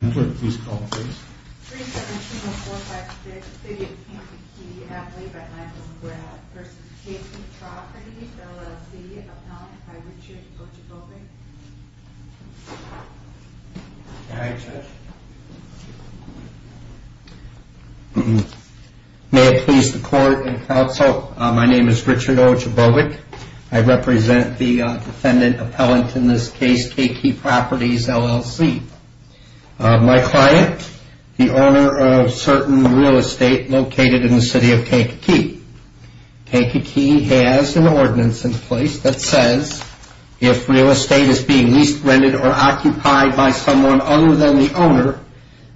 May I please the court and counsel, my name is Richard Ojabovic. I represent the defendant My client, the owner of certain real estate located in the city of Kankakee. Kankakee has an ordinance in place that says if real estate is being leased, rented, or occupied by someone other than the owner,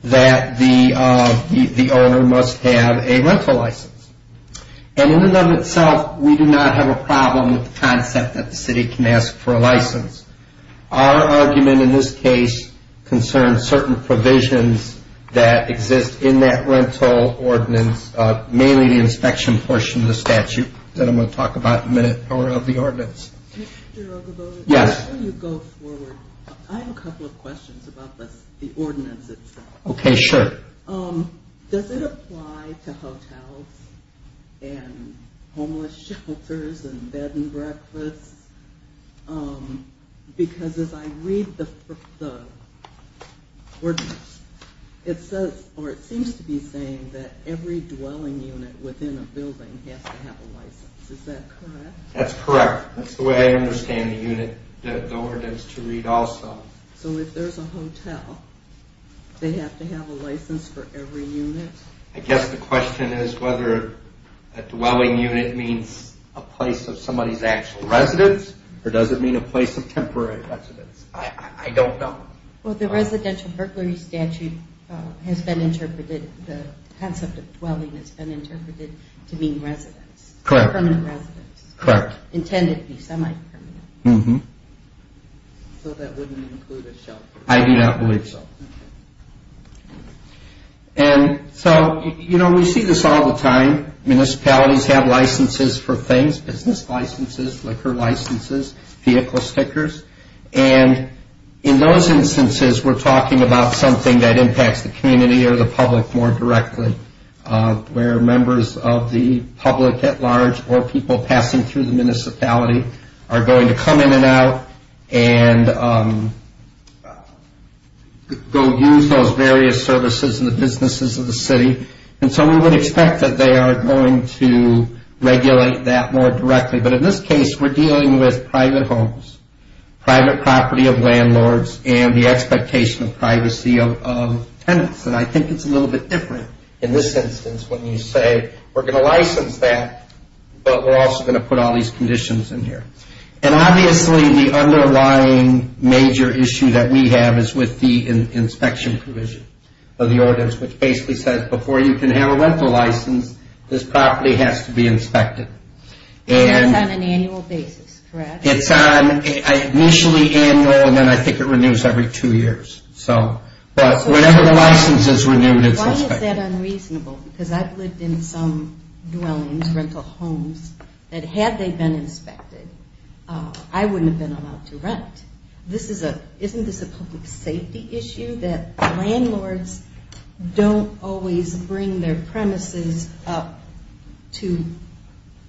that the owner must have a rental license. And in and of itself, we do not have a problem with the concept that the city can ask for a license. Our argument in this case concerns certain provisions that exist in that rental ordinance, mainly the inspection portion of the statute that I'm going to talk about in a minute, or of the ordinance. Mr. Ojabovic, before you go forward, I have a couple of questions about the ordinance itself. Does it apply to hotels and homeless shelters and bed and breakfasts? Because as I read the ordinance, it seems to be saying that every dwelling unit within a building has to have a license. Is that correct? That's correct. That's the way I understand the ordinance to read also. So if there's a hotel, they have to have a license for every unit? I guess the question is whether a dwelling unit means a place of somebody's actual residence, or does it mean a place of temporary residence? I don't know. Well, the residential burglary statute has been interpreted, the concept of dwelling has been interpreted to mean residence. Correct. Permanent residence. Correct. Intended to be semi-permanent. So that wouldn't include a shelter? I do not believe so. And so, you know, we see this all the time. Municipalities have licenses for things, business licenses, liquor licenses, vehicle stickers. And in those instances, we're talking about something that impacts the community or the public more directly, where members of the public at large or people passing through the municipality are going to come in and out and go use those various services in the businesses of the city. And so we would expect that they are going to regulate that more directly. But in this case, we're dealing with private homes, private property of landlords, and the expectation of privacy of tenants. And I think it's a little bit different in this instance when you say we're going to license that, but we're also going to put all these conditions in here. And obviously, the underlying major issue that we have is with the inspection provision of the ordinance, which basically says before you can have a rental license, this property has to be inspected. And it's on an annual basis, correct? It's initially annual, and then I think it renews every two years. But whenever the license is renewed, it's inspected. Why is that unreasonable? Because I've lived in some dwellings, rental homes, that had they been inspected, I wouldn't have been allowed to rent. Isn't this a public safety issue that landlords don't always bring their premises up to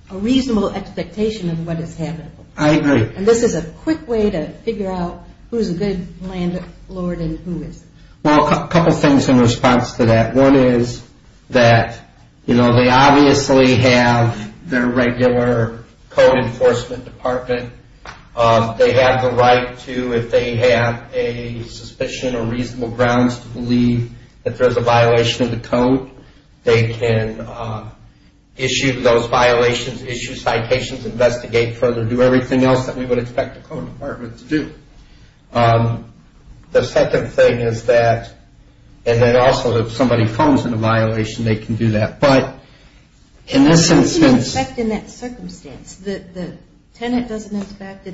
a reasonable expectation of what is habitable? I agree. And this is a quick way to figure out who's a good landlord and who isn't. Well, a couple things in response to that. One is that they obviously have their regular code enforcement department. They have the right to, if they have a suspicion or reasonable grounds to believe that there's a violation of the code, they can issue those violations, issue citations, investigate further, do everything else that we would expect the code department to do. The second thing is that, and then also if somebody phones in a violation, they can do that. But in this instance... How do you inspect in that circumstance? The tenant doesn't inspect, you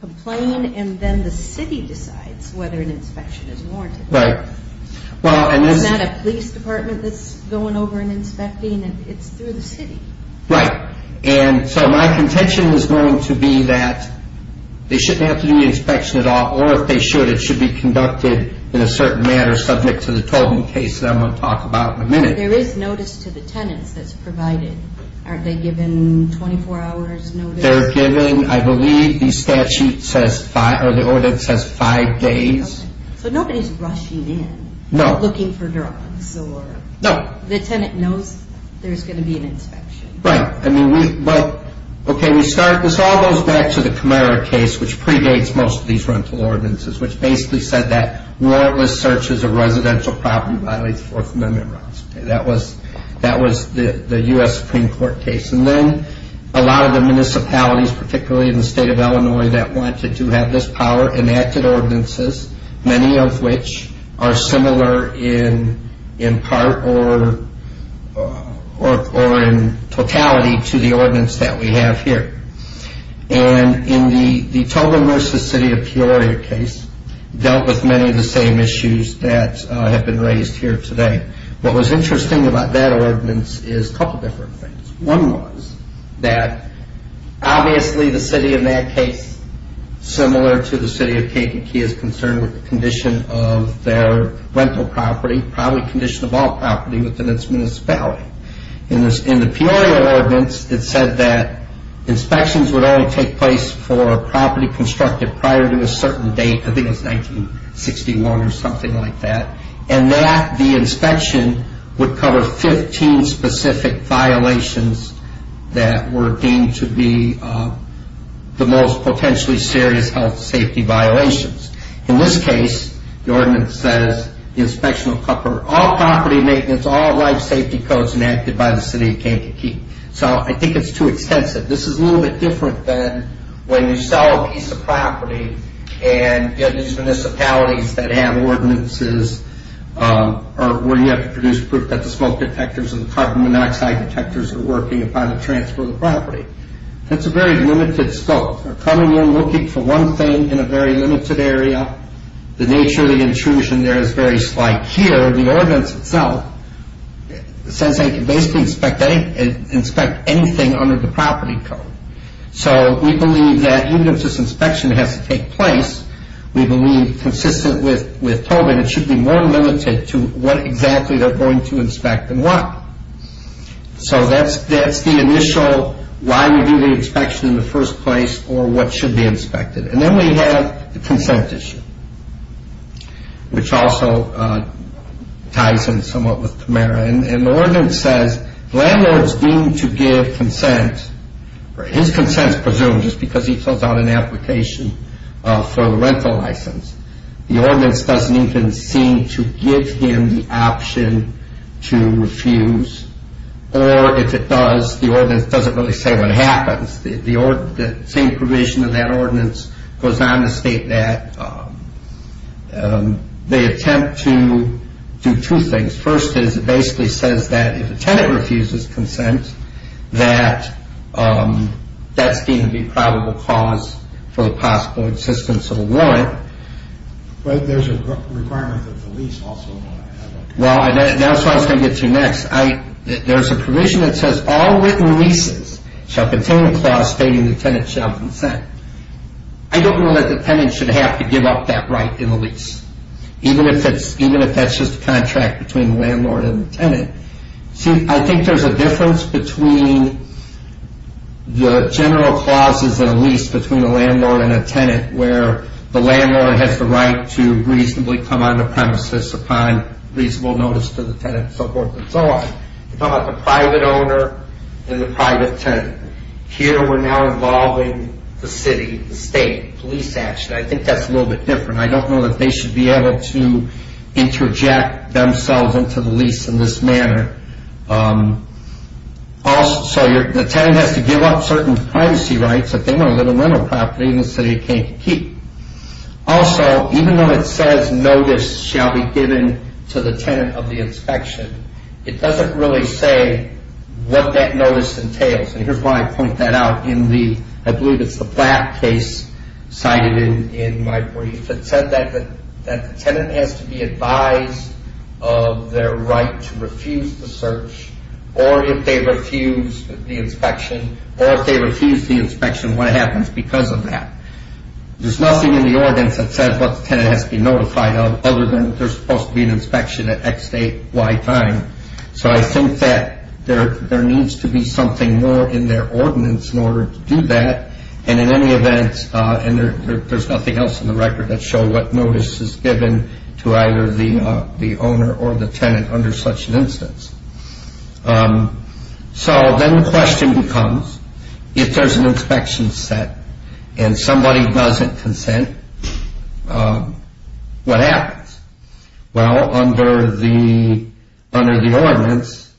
complain, and then the city decides whether an inspection is warranted. Right. Isn't that a police department that's going over and inspecting? It's through the city. Right. And so my contention is going to be that they shouldn't have to do the inspection at all, or if they should, it should be conducted in a certain manner subject to the Tobin case that I'm going to talk about in a minute. There is notice to the tenants that's provided. Aren't they given 24 hours notice? They're given, I believe the statute says, or the order says five days. So nobody's rushing in. No. Looking for drugs or... No. The tenant knows there's going to be an inspection. Right. Okay, this all goes back to the Camara case, which predates most of these rental ordinances, which basically said that warrantless searches of residential property violates Fourth Amendment rights. That was the US Supreme Court case. And then a lot of the municipalities, particularly in the state of Illinois, that wanted to have this power enacted ordinances, many of which are similar in part or in totality to the ordinance that we have here. And in the Tobin versus City of Peoria case dealt with many of the same issues that have been raised here today. What was interesting about that ordinance is a couple of different things. One was that obviously the city in that case, similar to the city of Keikiki, is concerned with the condition of their rental property, probably condition of all property within its municipality. In the Peoria ordinance, it said that inspections would only take place for a property constructed prior to a certain date. I think it was 1961 or something like that. And that the inspection would cover 15 specific violations that were deemed to be the most potentially serious health and safety violations. In this case, the ordinance says the inspection will cover all property maintenance, all life safety codes enacted by the city of Keikiki. So I think it's too extensive. This is a little bit different than when you sell a piece of property and you have these municipalities that have ordinances where you have to produce proof that the smoke detectors and the carbon monoxide detectors are working upon the transfer of the property. That's a very limited scope. They're coming in looking for one thing in a very limited area. The nature of the intrusion there is very slight. Here, the ordinance itself says they can basically inspect anything under the property code. So we believe that even if this inspection has to take place, we believe consistent with Tobin, it should be more limited to what exactly they're going to inspect than what. So that's the initial why we do the inspection in the first place or what should be inspected. And then we have the consent issue, which also ties in somewhat with Tamara. And the ordinance says landlords deemed to give consent, his consent is presumed just because he fills out an application for a rental license. The ordinance doesn't even seem to give him the option to refuse. Or if it does, the ordinance doesn't really say what happens. The same provision of that ordinance goes on to state that they attempt to do two things. First is it basically says that if a tenant refuses consent, that that's deemed to be probable cause for the possible existence of a warrant. But there's a requirement of the lease also. Well, that's what I was going to get to next. There's a provision that says all written leases shall contain a clause stating the tenant shall consent. I don't know that the tenant should have to give up that right in the lease, even if that's just a contract between the landlord and the tenant. See, I think there's a difference between the general clauses in a lease between a landlord and a tenant where the landlord has the right to reasonably come on the premises, apply reasonable notice to the tenant, and so forth and so on. You talk about the private owner and the private tenant. Here we're now involving the city, the state, police action. I think that's a little bit different. I don't know that they should be able to interject themselves into the lease in this manner. So the tenant has to give up certain privacy rights that they want to live on rental property and the city can't keep. Also, even though it says notice shall be given to the tenant of the inspection, it doesn't really say what that notice entails. And here's why I point that out. I believe it's the Platt case cited in my brief. It said that the tenant has to be advised of their right to refuse the search or if they refuse the inspection. Or if they refuse the inspection, what happens because of that? There's nothing in the ordinance that says what the tenant has to be notified of other than there's supposed to be an inspection at X date, Y time. So I think that there needs to be something more in their ordinance in order to do that. And in any event, there's nothing else in the record that shows what notice is given to either the owner or the tenant under such an instance. So then the question becomes, if there's an inspection set and somebody doesn't consent, what happens? Well, under the ordinance,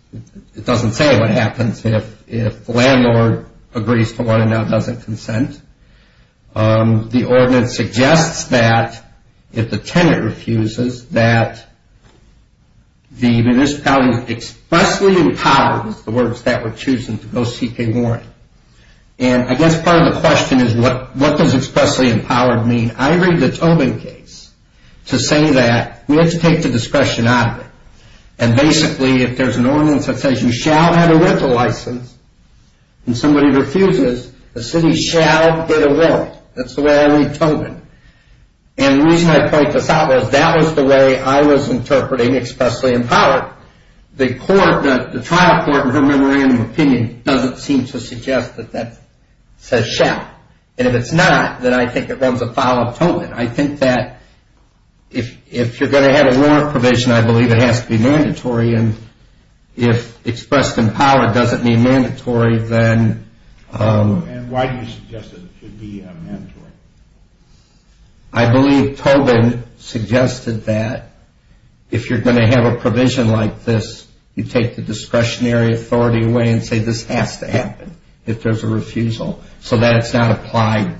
it doesn't say what happens if the landlord agrees to what if the landlord now doesn't consent. The ordinance suggests that if the tenant refuses, that the municipality is expressly empowered is the words that we're choosing to go seek a warning. And I guess part of the question is what does expressly empowered mean? I read the Tobin case to say that we have to take the discretion out of it. And basically, if there's an ordinance that says you shall have a rental license and somebody refuses, the city shall get a warrant. That's the way I read Tobin. And the reason I point this out is that was the way I was interpreting expressly empowered. The trial court in her memorandum of opinion doesn't seem to suggest that that says shall. And if it's not, then I think it runs afoul of Tobin. I think that if you're going to have a warrant provision, I believe it has to be mandatory. And if expressed in power doesn't mean mandatory, then... And why do you suggest that it should be mandatory? I believe Tobin suggested that if you're going to have a provision like this, you take the discretionary authority away and say this has to happen if there's a refusal, so that it's not applied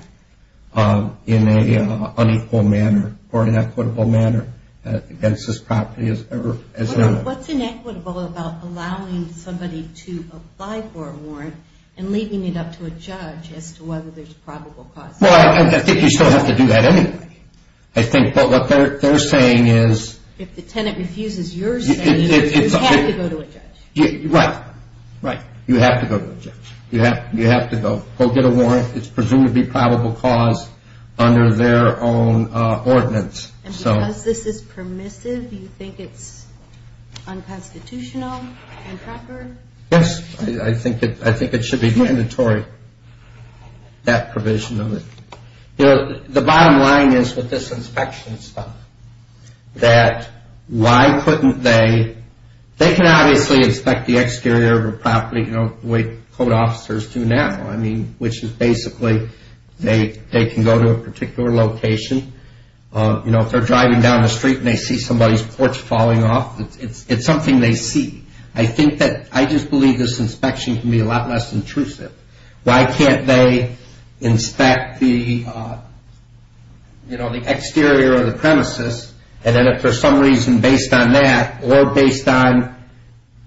in an unequal manner or an equitable manner against this property. What's inequitable about allowing somebody to apply for a warrant and leaving it up to a judge as to whether there's probable cause? Well, I think you still have to do that anyway. I think what they're saying is... If the tenant refuses your saying, you have to go to a judge. Right. Right. You have to go to a judge. You have to go get a warrant. It's presumably probable cause under their own ordinance. And because this is permissive, do you think it's unconstitutional and proper? Yes. I think it should be mandatory, that provision of it. The bottom line is with this inspection stuff, that why couldn't they... They can obviously inspect the exterior of a property the way code officers do now, which is basically they can go to a particular location. If they're driving down the street and they see somebody's porch falling off, it's something they see. I just believe this inspection can be a lot less intrusive. Why can't they inspect the exterior of the premises, and then if for some reason based on that or based on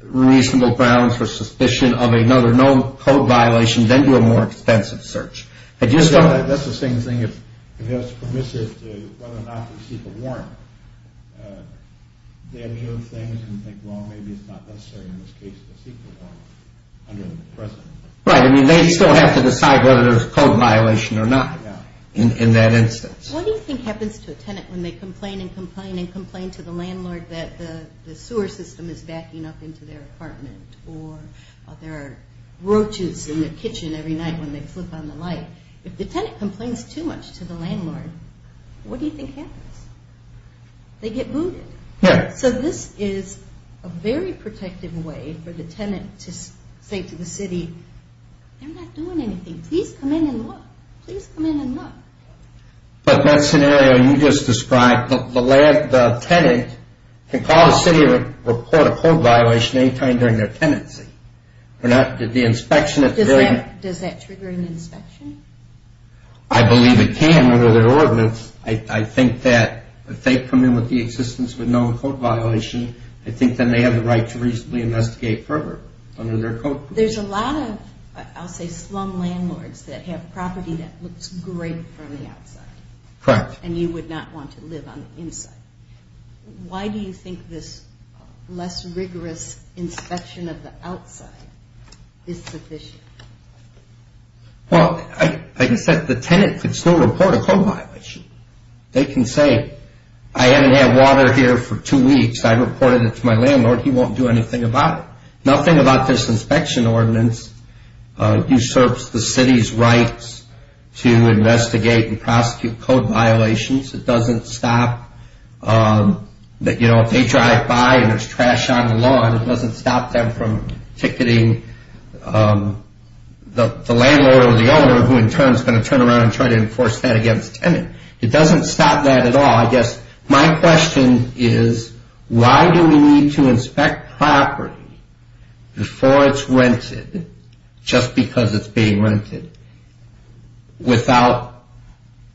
reasonable grounds for suspicion of another known code violation, then do a more extensive search? That's the same thing if it's permissive to whether or not to seek a warrant. They observe things and think, well, maybe it's not necessary in this case to seek a warrant under the present. Right. I mean, they still have to decide whether there's a code violation or not in that instance. What do you think happens to a tenant when they complain and complain and complain to the landlord that the sewer system is backing up into their apartment, or there are roaches in their kitchen every night when they flip on the light? If the tenant complains too much to the landlord, what do you think happens? They get booted. So this is a very protective way for the tenant to say to the city, they're not doing anything. Please come in and look. Please come in and look. But that scenario you just described, the tenant can call the city or report a code violation any time during their tenancy. Does that trigger an inspection? I believe it can under their ordinance. I think that if they come in with the existence of a known code violation, I think then they have the right to reasonably investigate further under their code. There's a lot of, I'll say, slum landlords that have property that looks great from the outside. Correct. And you would not want to live on the inside. Why do you think this less rigorous inspection of the outside is sufficient? Well, like I said, the tenant can still report a code violation. They can say, I haven't had water here for two weeks. I reported it to my landlord. He won't do anything about it. Nothing about this inspection ordinance usurps the city's rights to investigate and prosecute code violations. It doesn't stop, you know, if they drive by and there's trash on the lawn, it doesn't stop them from ticketing the landlord or the owner, who in turn is going to turn around and try to enforce that against the tenant. It doesn't stop that at all. I guess my question is why do we need to inspect property before it's rented, just because it's being rented, without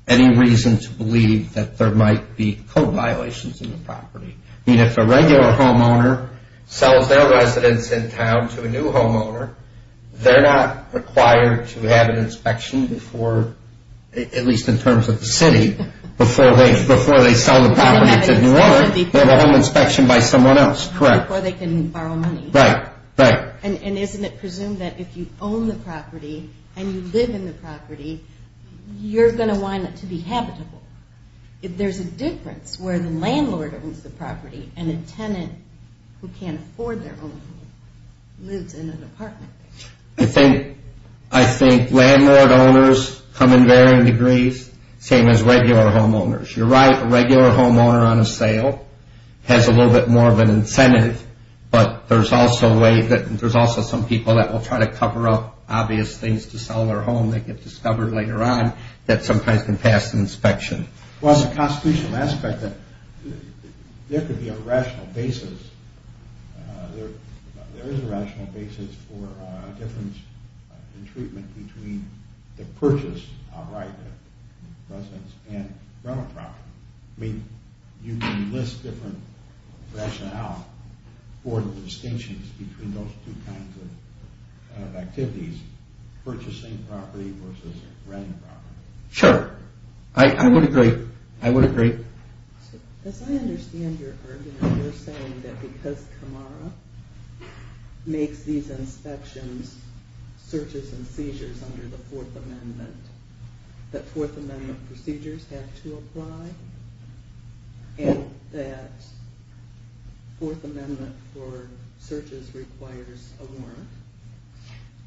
any reason to believe that there might be code violations in the property? I mean, if a regular homeowner sells their residence in town to a new homeowner, they're not required to have an inspection before, at least in terms of the city, before they sell the property to a new owner. They have a home inspection by someone else. Correct. Before they can borrow money. Right, right. And isn't it presumed that if you own the property and you live in the property, you're going to want it to be habitable? There's a difference where the landlord owns the property and a tenant who can't afford their own home lives in an apartment. I think landlord owners come in varying degrees, same as regular homeowners. You're right, a regular homeowner on a sale has a little bit more of an incentive, but there's also some people that will try to cover up obvious things to sell their home that get discovered later on that sometimes can pass an inspection. Well, it's a constitutional aspect that there could be a rational basis. There is a rational basis for a difference in treatment between the purchase, I'll write that, of residence and rental property. I mean, you can list different rationale for the distinctions between those two kinds of activities, purchasing property versus renting property. Sure, I would agree, I would agree. As I understand your argument, you're saying that because Camara makes these inspections, searches and seizures under the Fourth Amendment, that Fourth Amendment procedures have to apply and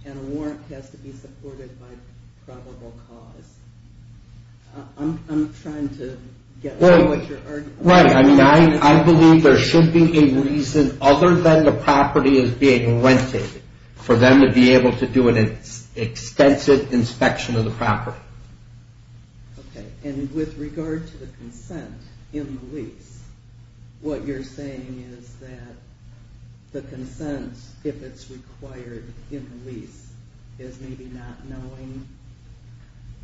a warrant has to be supported by probable cause. I'm trying to get through what you're arguing. Right, I mean, I believe there should be a reason other than the property is being rented for them to be able to do an extensive inspection of the property. Okay, and with regard to the consent in the lease, what you're saying is that the consent, if it's required in the lease, is maybe not knowing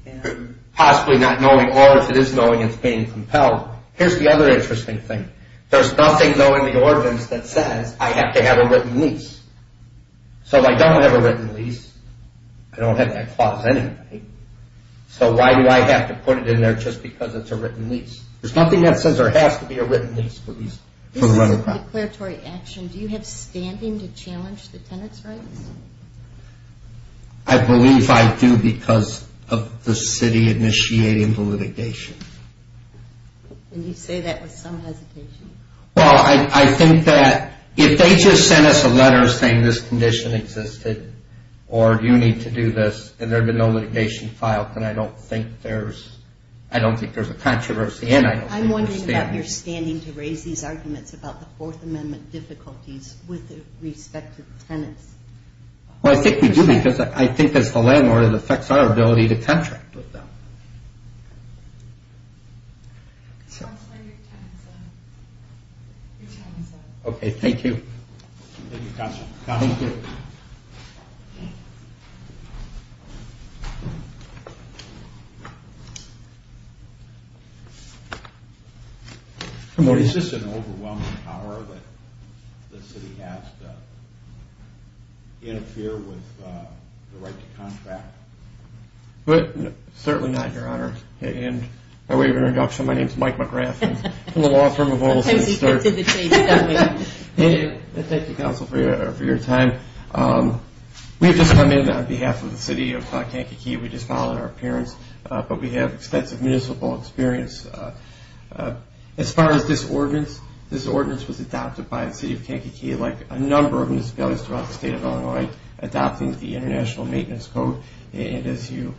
and... Possibly not knowing, or if it is knowing, it's being compelled. Here's the other interesting thing. There's nothing, though, in the ordinance that says I have to have a written lease. So if I don't have a written lease, I don't have that clause anyway, so why do I have to put it in there just because it's a written lease? There's nothing that says there has to be a written lease for the rental property. This isn't a declaratory action. Do you have standing to challenge the tenant's rights? I believe I do because of the city initiating the litigation. And you say that with some hesitation. Well, I think that if they just sent us a letter saying this condition existed or you need to do this and there had been no litigation filed, then I don't think there's a controversy and I don't think there's standing. I'm wondering about your standing to raise these arguments about the Fourth Amendment difficulties with respect to the tenants. Well, I think we do because I think as the landlord, it affects our ability to contract with them. Counselor, your time is up. Okay, thank you. Thank you, Counselor. Counselor, thank you. Is this an overwhelming power that the city has to interfere with the right to contract? Certainly not, Your Honor. And by way of introduction, my name is Mike McGrath. I'm from the law firm of Olson. Thank you, Counselor, for your time. We've just come in on behalf of the city of Kankakee. We just filed our appearance, but we have extensive municipal experience. As far as this ordinance, this ordinance was adopted by the city of Kankakee, like a number of municipalities throughout the state of Illinois, adopting the International Maintenance Code. And as you,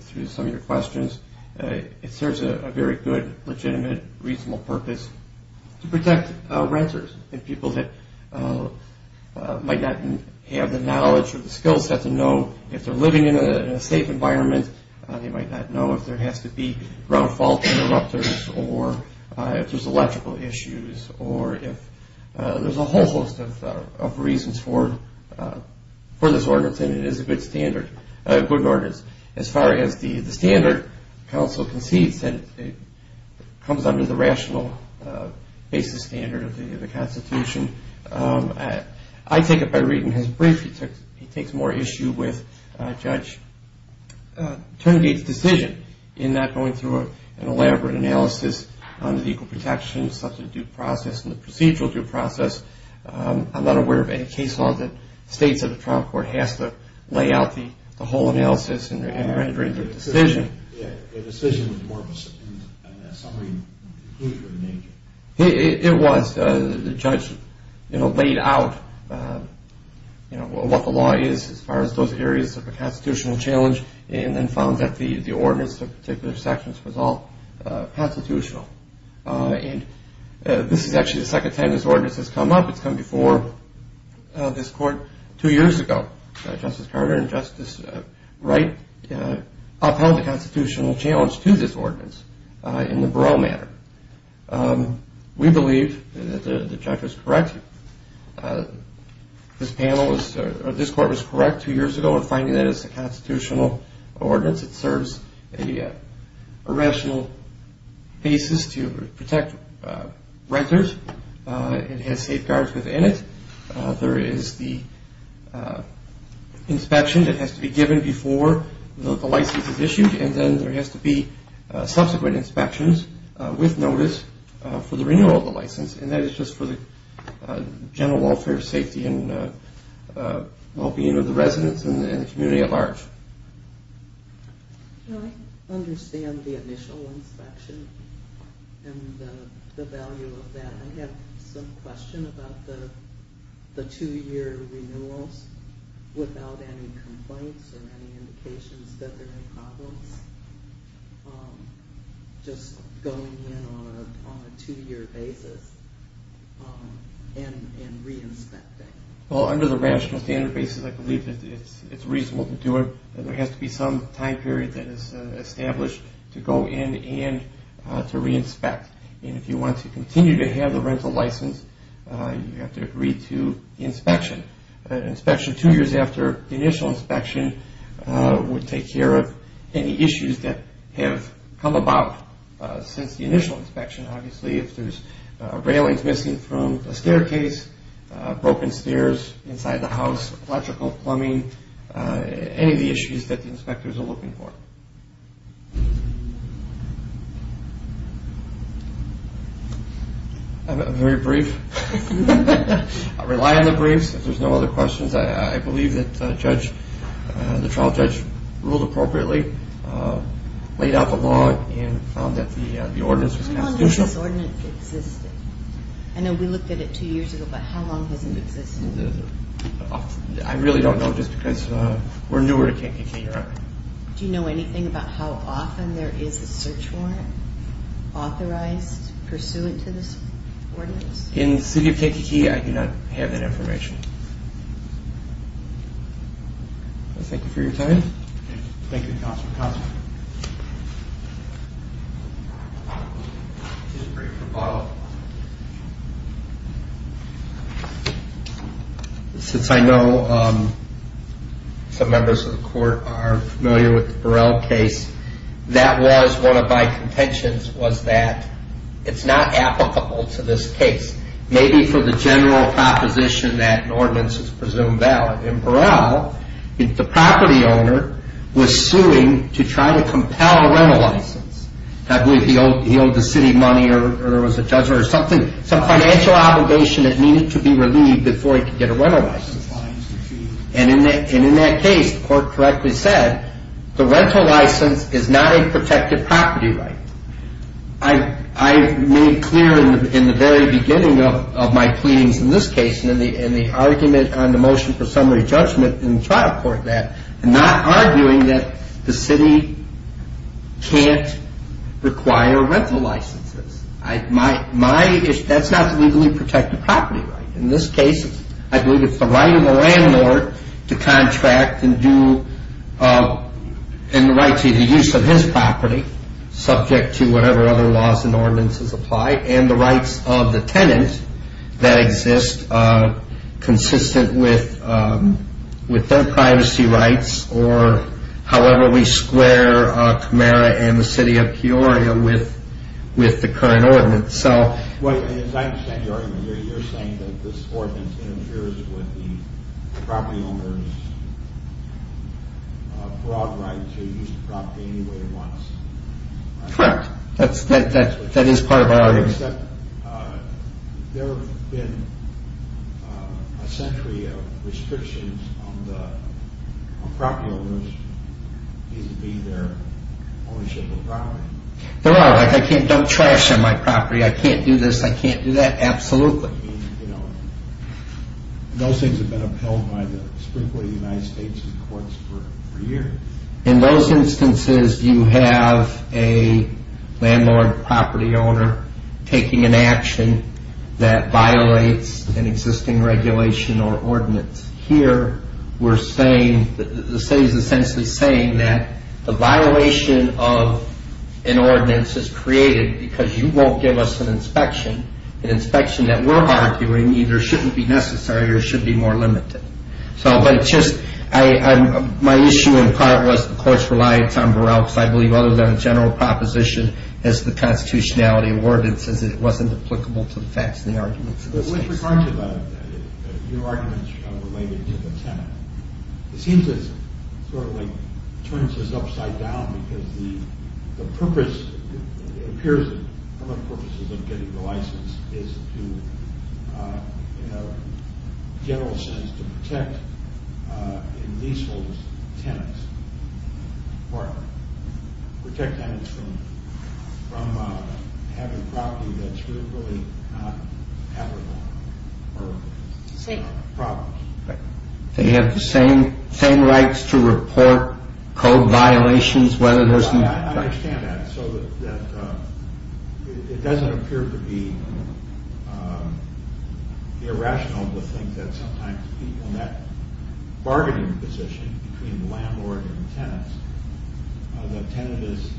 through some of your questions, it serves a very good, legitimate, reasonable purpose to protect renters and people that might not have the knowledge or the skill set to know if they're living in a safe environment. They might not know if there has to be ground fault interrupters or if there's electrical issues or if there's a whole host of reasons for this ordinance and it is a good standard, a good ordinance. As far as the standard, Counsel concedes that it comes under the rational basis standard of the Constitution. I take it by reading his brief, he takes more issue with Judge Turngate's decision in not going through an elaborate analysis on legal protection, subject to due process and the procedural due process. I'm not aware of any case law that states that the trial court has to lay out the whole analysis and render it a decision. The decision was more of a summary and conclusion. It was. The judge laid out what the law is as far as those areas of a constitutional challenge and then found that the ordinance of particular sections was all constitutional. And this is actually the second time this ordinance has come up. It's come before this court two years ago. Justice Carter and Justice Wright upheld the constitutional challenge to this ordinance in the Barreau matter. We believe that the judge was correct. This panel was, this court was correct two years ago in finding that it's a constitutional ordinance. It serves a rational basis to protect renters. It has safeguards within it. There is the inspection that has to be given before the license is issued and then there has to be subsequent inspections with notice for the renewal of the license. And that is just for the general welfare, safety, and well-being of the residents and the community at large. I understand the initial inspection and the value of that. I have some question about the two-year renewals without any complaints or any indications that there are any problems. Just going in on a two-year basis and re-inspecting. Well, under the rational standard basis, I believe it's reasonable to do it. There has to be some time period that is established to go in and to re-inspect. And if you want to continue to have the rental license, you have to agree to the inspection. An inspection two years after the initial inspection would take care of any issues that have come about since the initial inspection. Obviously, if there's railings missing from a staircase, broken stairs inside the house, electrical plumbing, any of the issues that the inspectors are looking for. I'm very brief. I rely on the briefs. If there's no other questions, I believe that the trial judge ruled appropriately, laid out the law, and found that the ordinance was constitutional. How long has this ordinance existed? I know we looked at it two years ago, but how long has it existed? I really don't know, just because we're newer to KKK. Do you know anything about how often there is a search warrant authorized pursuant to this ordinance? In the city of KKK, I do not have that information. Thank you for your time. Thank you, Counsel. Counsel. Just a brief rebuttal. Since I know some members of the court are familiar with the Burrell case, that was one of my contentions was that it's not applicable to this case. Maybe for the general proposition that an ordinance is presumed valid. In Burrell, the property owner was suing to try to compel a rental license. I believe he owed the city money or there was a judgment or something, some financial obligation that needed to be relieved before he could get a rental license. And in that case, the court correctly said, the rental license is not a protected property right. I made clear in the very beginning of my pleadings in this case, and the argument on the motion for summary judgment in the trial court that, I'm not arguing that the city can't require rental licenses. That's not the legally protected property right. In this case, I believe it's the right of the landlord to contract and do, and the right to the use of his property subject to whatever other laws and ordinances apply, and the rights of the tenant that exist consistent with their privacy rights, or however we square Camara and the city of Peoria with the current ordinance. As I understand your argument, you're saying that this ordinance interferes with the property owner's broad right to use the property any way he wants. Correct, that is part of our argument. There have been a century of restrictions on the property owners, it needs to be their ownership of the property. There are, like I can't dump trash on my property, I can't do this, I can't do that, absolutely. Those things have been upheld by the Supreme Court of the United States and the courts for years. In those instances, you have a landlord, property owner, taking an action that violates an existing regulation or ordinance. Here, we're saying, the city is essentially saying that the violation of an ordinance is created because you won't give us an inspection, an inspection that we're arguing either shouldn't be necessary or should be more limited. My issue in part was the courts relied on Burrell, because I believe other than a general proposition, as the constitutionality awarded, it says it wasn't applicable to the facts of the argument. With regard to your arguments related to the tenant, it seems it sort of turns this upside down, because the purpose, it appears one of the purposes of getting the license is to, in a general sense, to protect leaseholders' tenants or protect tenants from having property that's really not applicable or problems. They have the same rights to report code violations whether there's... I understand that. It doesn't appear to be irrational to think that sometimes people in that bargaining position between the landlord and the tenants, the tenant is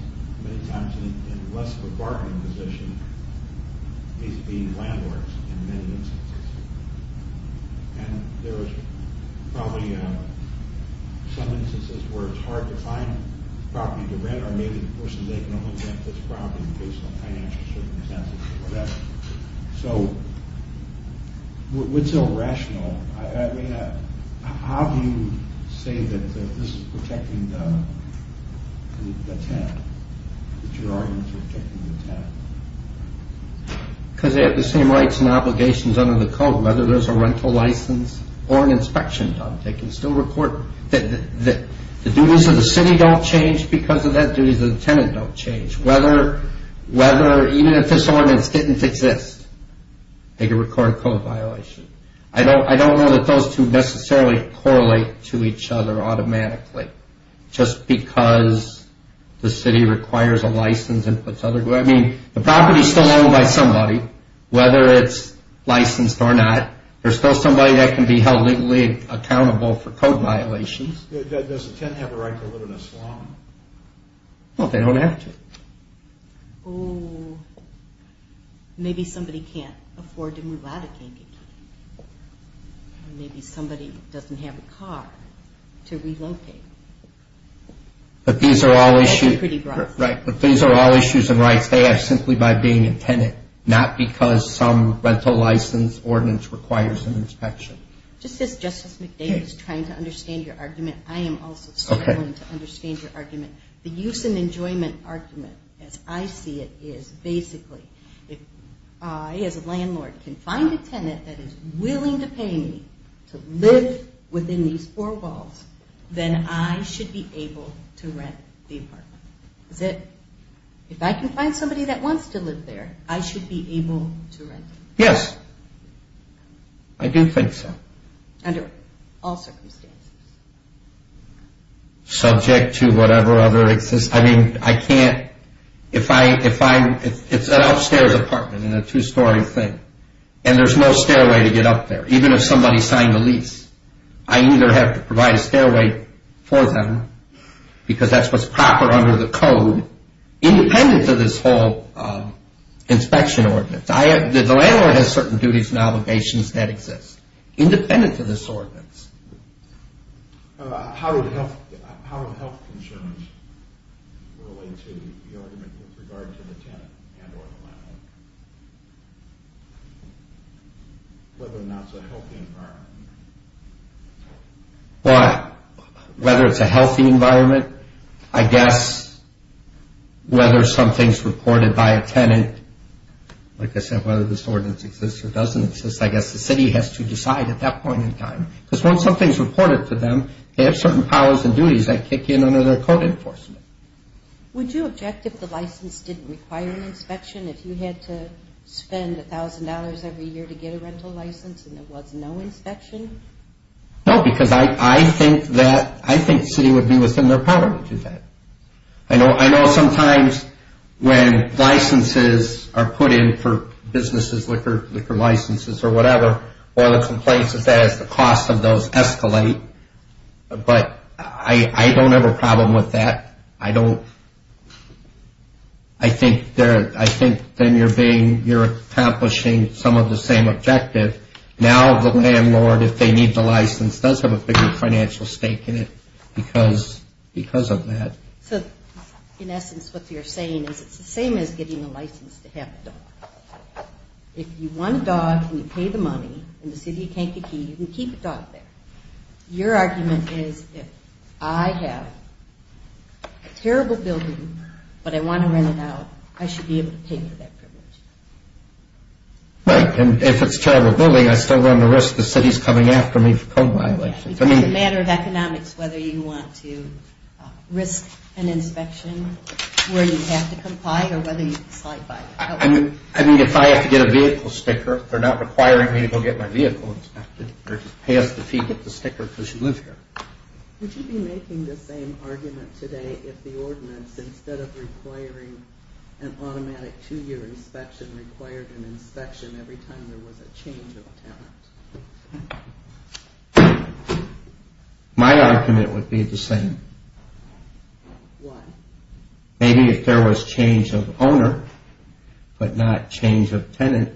many times in less of a bargaining position is being landlords in many instances. And there's probably some instances where it's hard to find property to rent or maybe the person they can only rent this property in case of financial circumstances or whatever. So, what's so rational? I mean, how do you say that this is protecting the tenant, that your arguments are protecting the tenant? Because they have the same rights and obligations under the code, whether there's a rental license or an inspection done. They can still report... The duties of the city don't change because of that. Duties of the tenant don't change. Whether, even if this ordinance didn't exist, they could record code violation. I don't know that those two necessarily correlate to each other automatically just because the city requires a license and puts other... I mean, the property is still owned by somebody, whether it's licensed or not. There's still somebody that can be held legally accountable for code violations. Does the tenant have a right to live in a slum? No, they don't have to. Oh, maybe somebody can't afford to move out of Kankakee. Maybe somebody doesn't have a car to relocate. But these are all issues... They are simply by being a tenant, not because some rental license ordinance requires an inspection. Just as Justice McDavis is trying to understand your argument, I am also struggling to understand your argument. The use and enjoyment argument, as I see it, is basically if I, as a landlord, can find a tenant that is willing to pay me to live within these four walls, then I should be able to rent the apartment. If I can find somebody that wants to live there, I should be able to rent it? Yes, I do think so. Under all circumstances? Subject to whatever other... I mean, I can't... It's an upstairs apartment in a two-story thing, and there's no stairway to get up there, even if somebody signed a lease. I either have to provide a stairway for them, because that's what's proper under the code, independent of this whole inspection ordinance. The landlord has certain duties and obligations that exist, independent of this ordinance. How would health concerns relate to the argument with regard to the tenant and or the landlord? Whether or not it's a healthy environment? Why? Whether it's a healthy environment? I guess whether something's reported by a tenant. Like I said, whether this ordinance exists or doesn't exist, I guess the city has to decide at that point in time. Because once something's reported to them, they have certain powers and duties that kick in under their code enforcement. Would you object if the license didn't require an inspection? If you had to spend $1,000 every year to get a rental license and there was no inspection? No, because I think the city would be within their power to do that. I know sometimes when licenses are put in for businesses, liquor licenses or whatever, one of the complaints is that the cost of those escalate. But I don't have a problem with that. I think then you're accomplishing some of the same objective. Now the landlord, if they need the license, does have a bigger financial stake in it because of that. So in essence what you're saying is it's the same as getting a license to have a dog. If you want a dog and you pay the money and the city can't get you, you can keep a dog there. Your argument is if I have a terrible building but I want to rent it out, I should be able to pay for that privilege. Right, and if it's a terrible building, I still run the risk the city's coming after me for code violations. It's a matter of economics whether you want to risk an inspection where you have to comply or whether you slide by. I mean, if I have to get a vehicle sticker, they're not requiring me to go get my vehicle inspected. They just pay us the fee to get the sticker because you live here. Would you be making the same argument today if the ordinance, instead of requiring an automatic two-year inspection, required an inspection every time there was a change of tenant? My argument would be the same. Why? Maybe if there was change of owner but not change of tenant.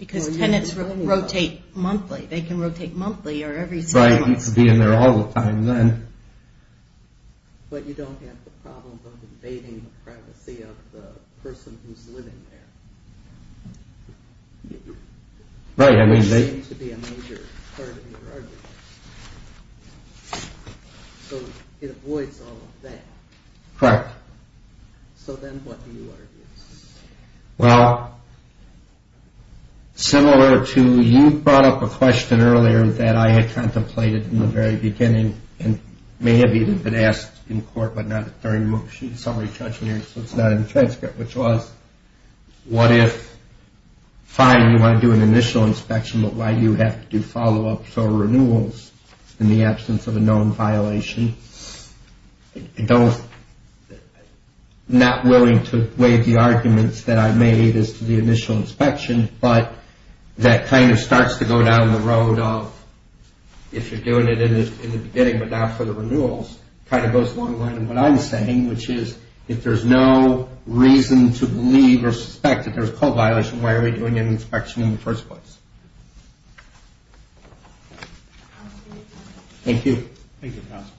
Because tenants rotate monthly. They can rotate monthly or every seven months. Right, you could be in there all the time then. But you don't have the problem of invading the privacy of the person who's living there. Right, I mean they... Which seems to be a major part of your argument. So it avoids all of that. Correct. So then what do you argue? Well, similar to you brought up a question earlier that I had contemplated in the very beginning and may have even been asked in court but not a third motion. Somebody touched on it, so it's not in the transcript, which was what if, fine, you want to do an initial inspection, but why do you have to do follow-ups or renewals in the absence of a known violation? Not willing to waive the arguments that I made as to the initial inspection, but that kind of starts to go down the road of if you're doing it in the beginning but not for the renewals, kind of goes a long way. And what I'm saying, which is if there's no reason to believe or suspect that there's a code violation, why are we doing an inspection in the first place? Thank you. Thank you, counsel.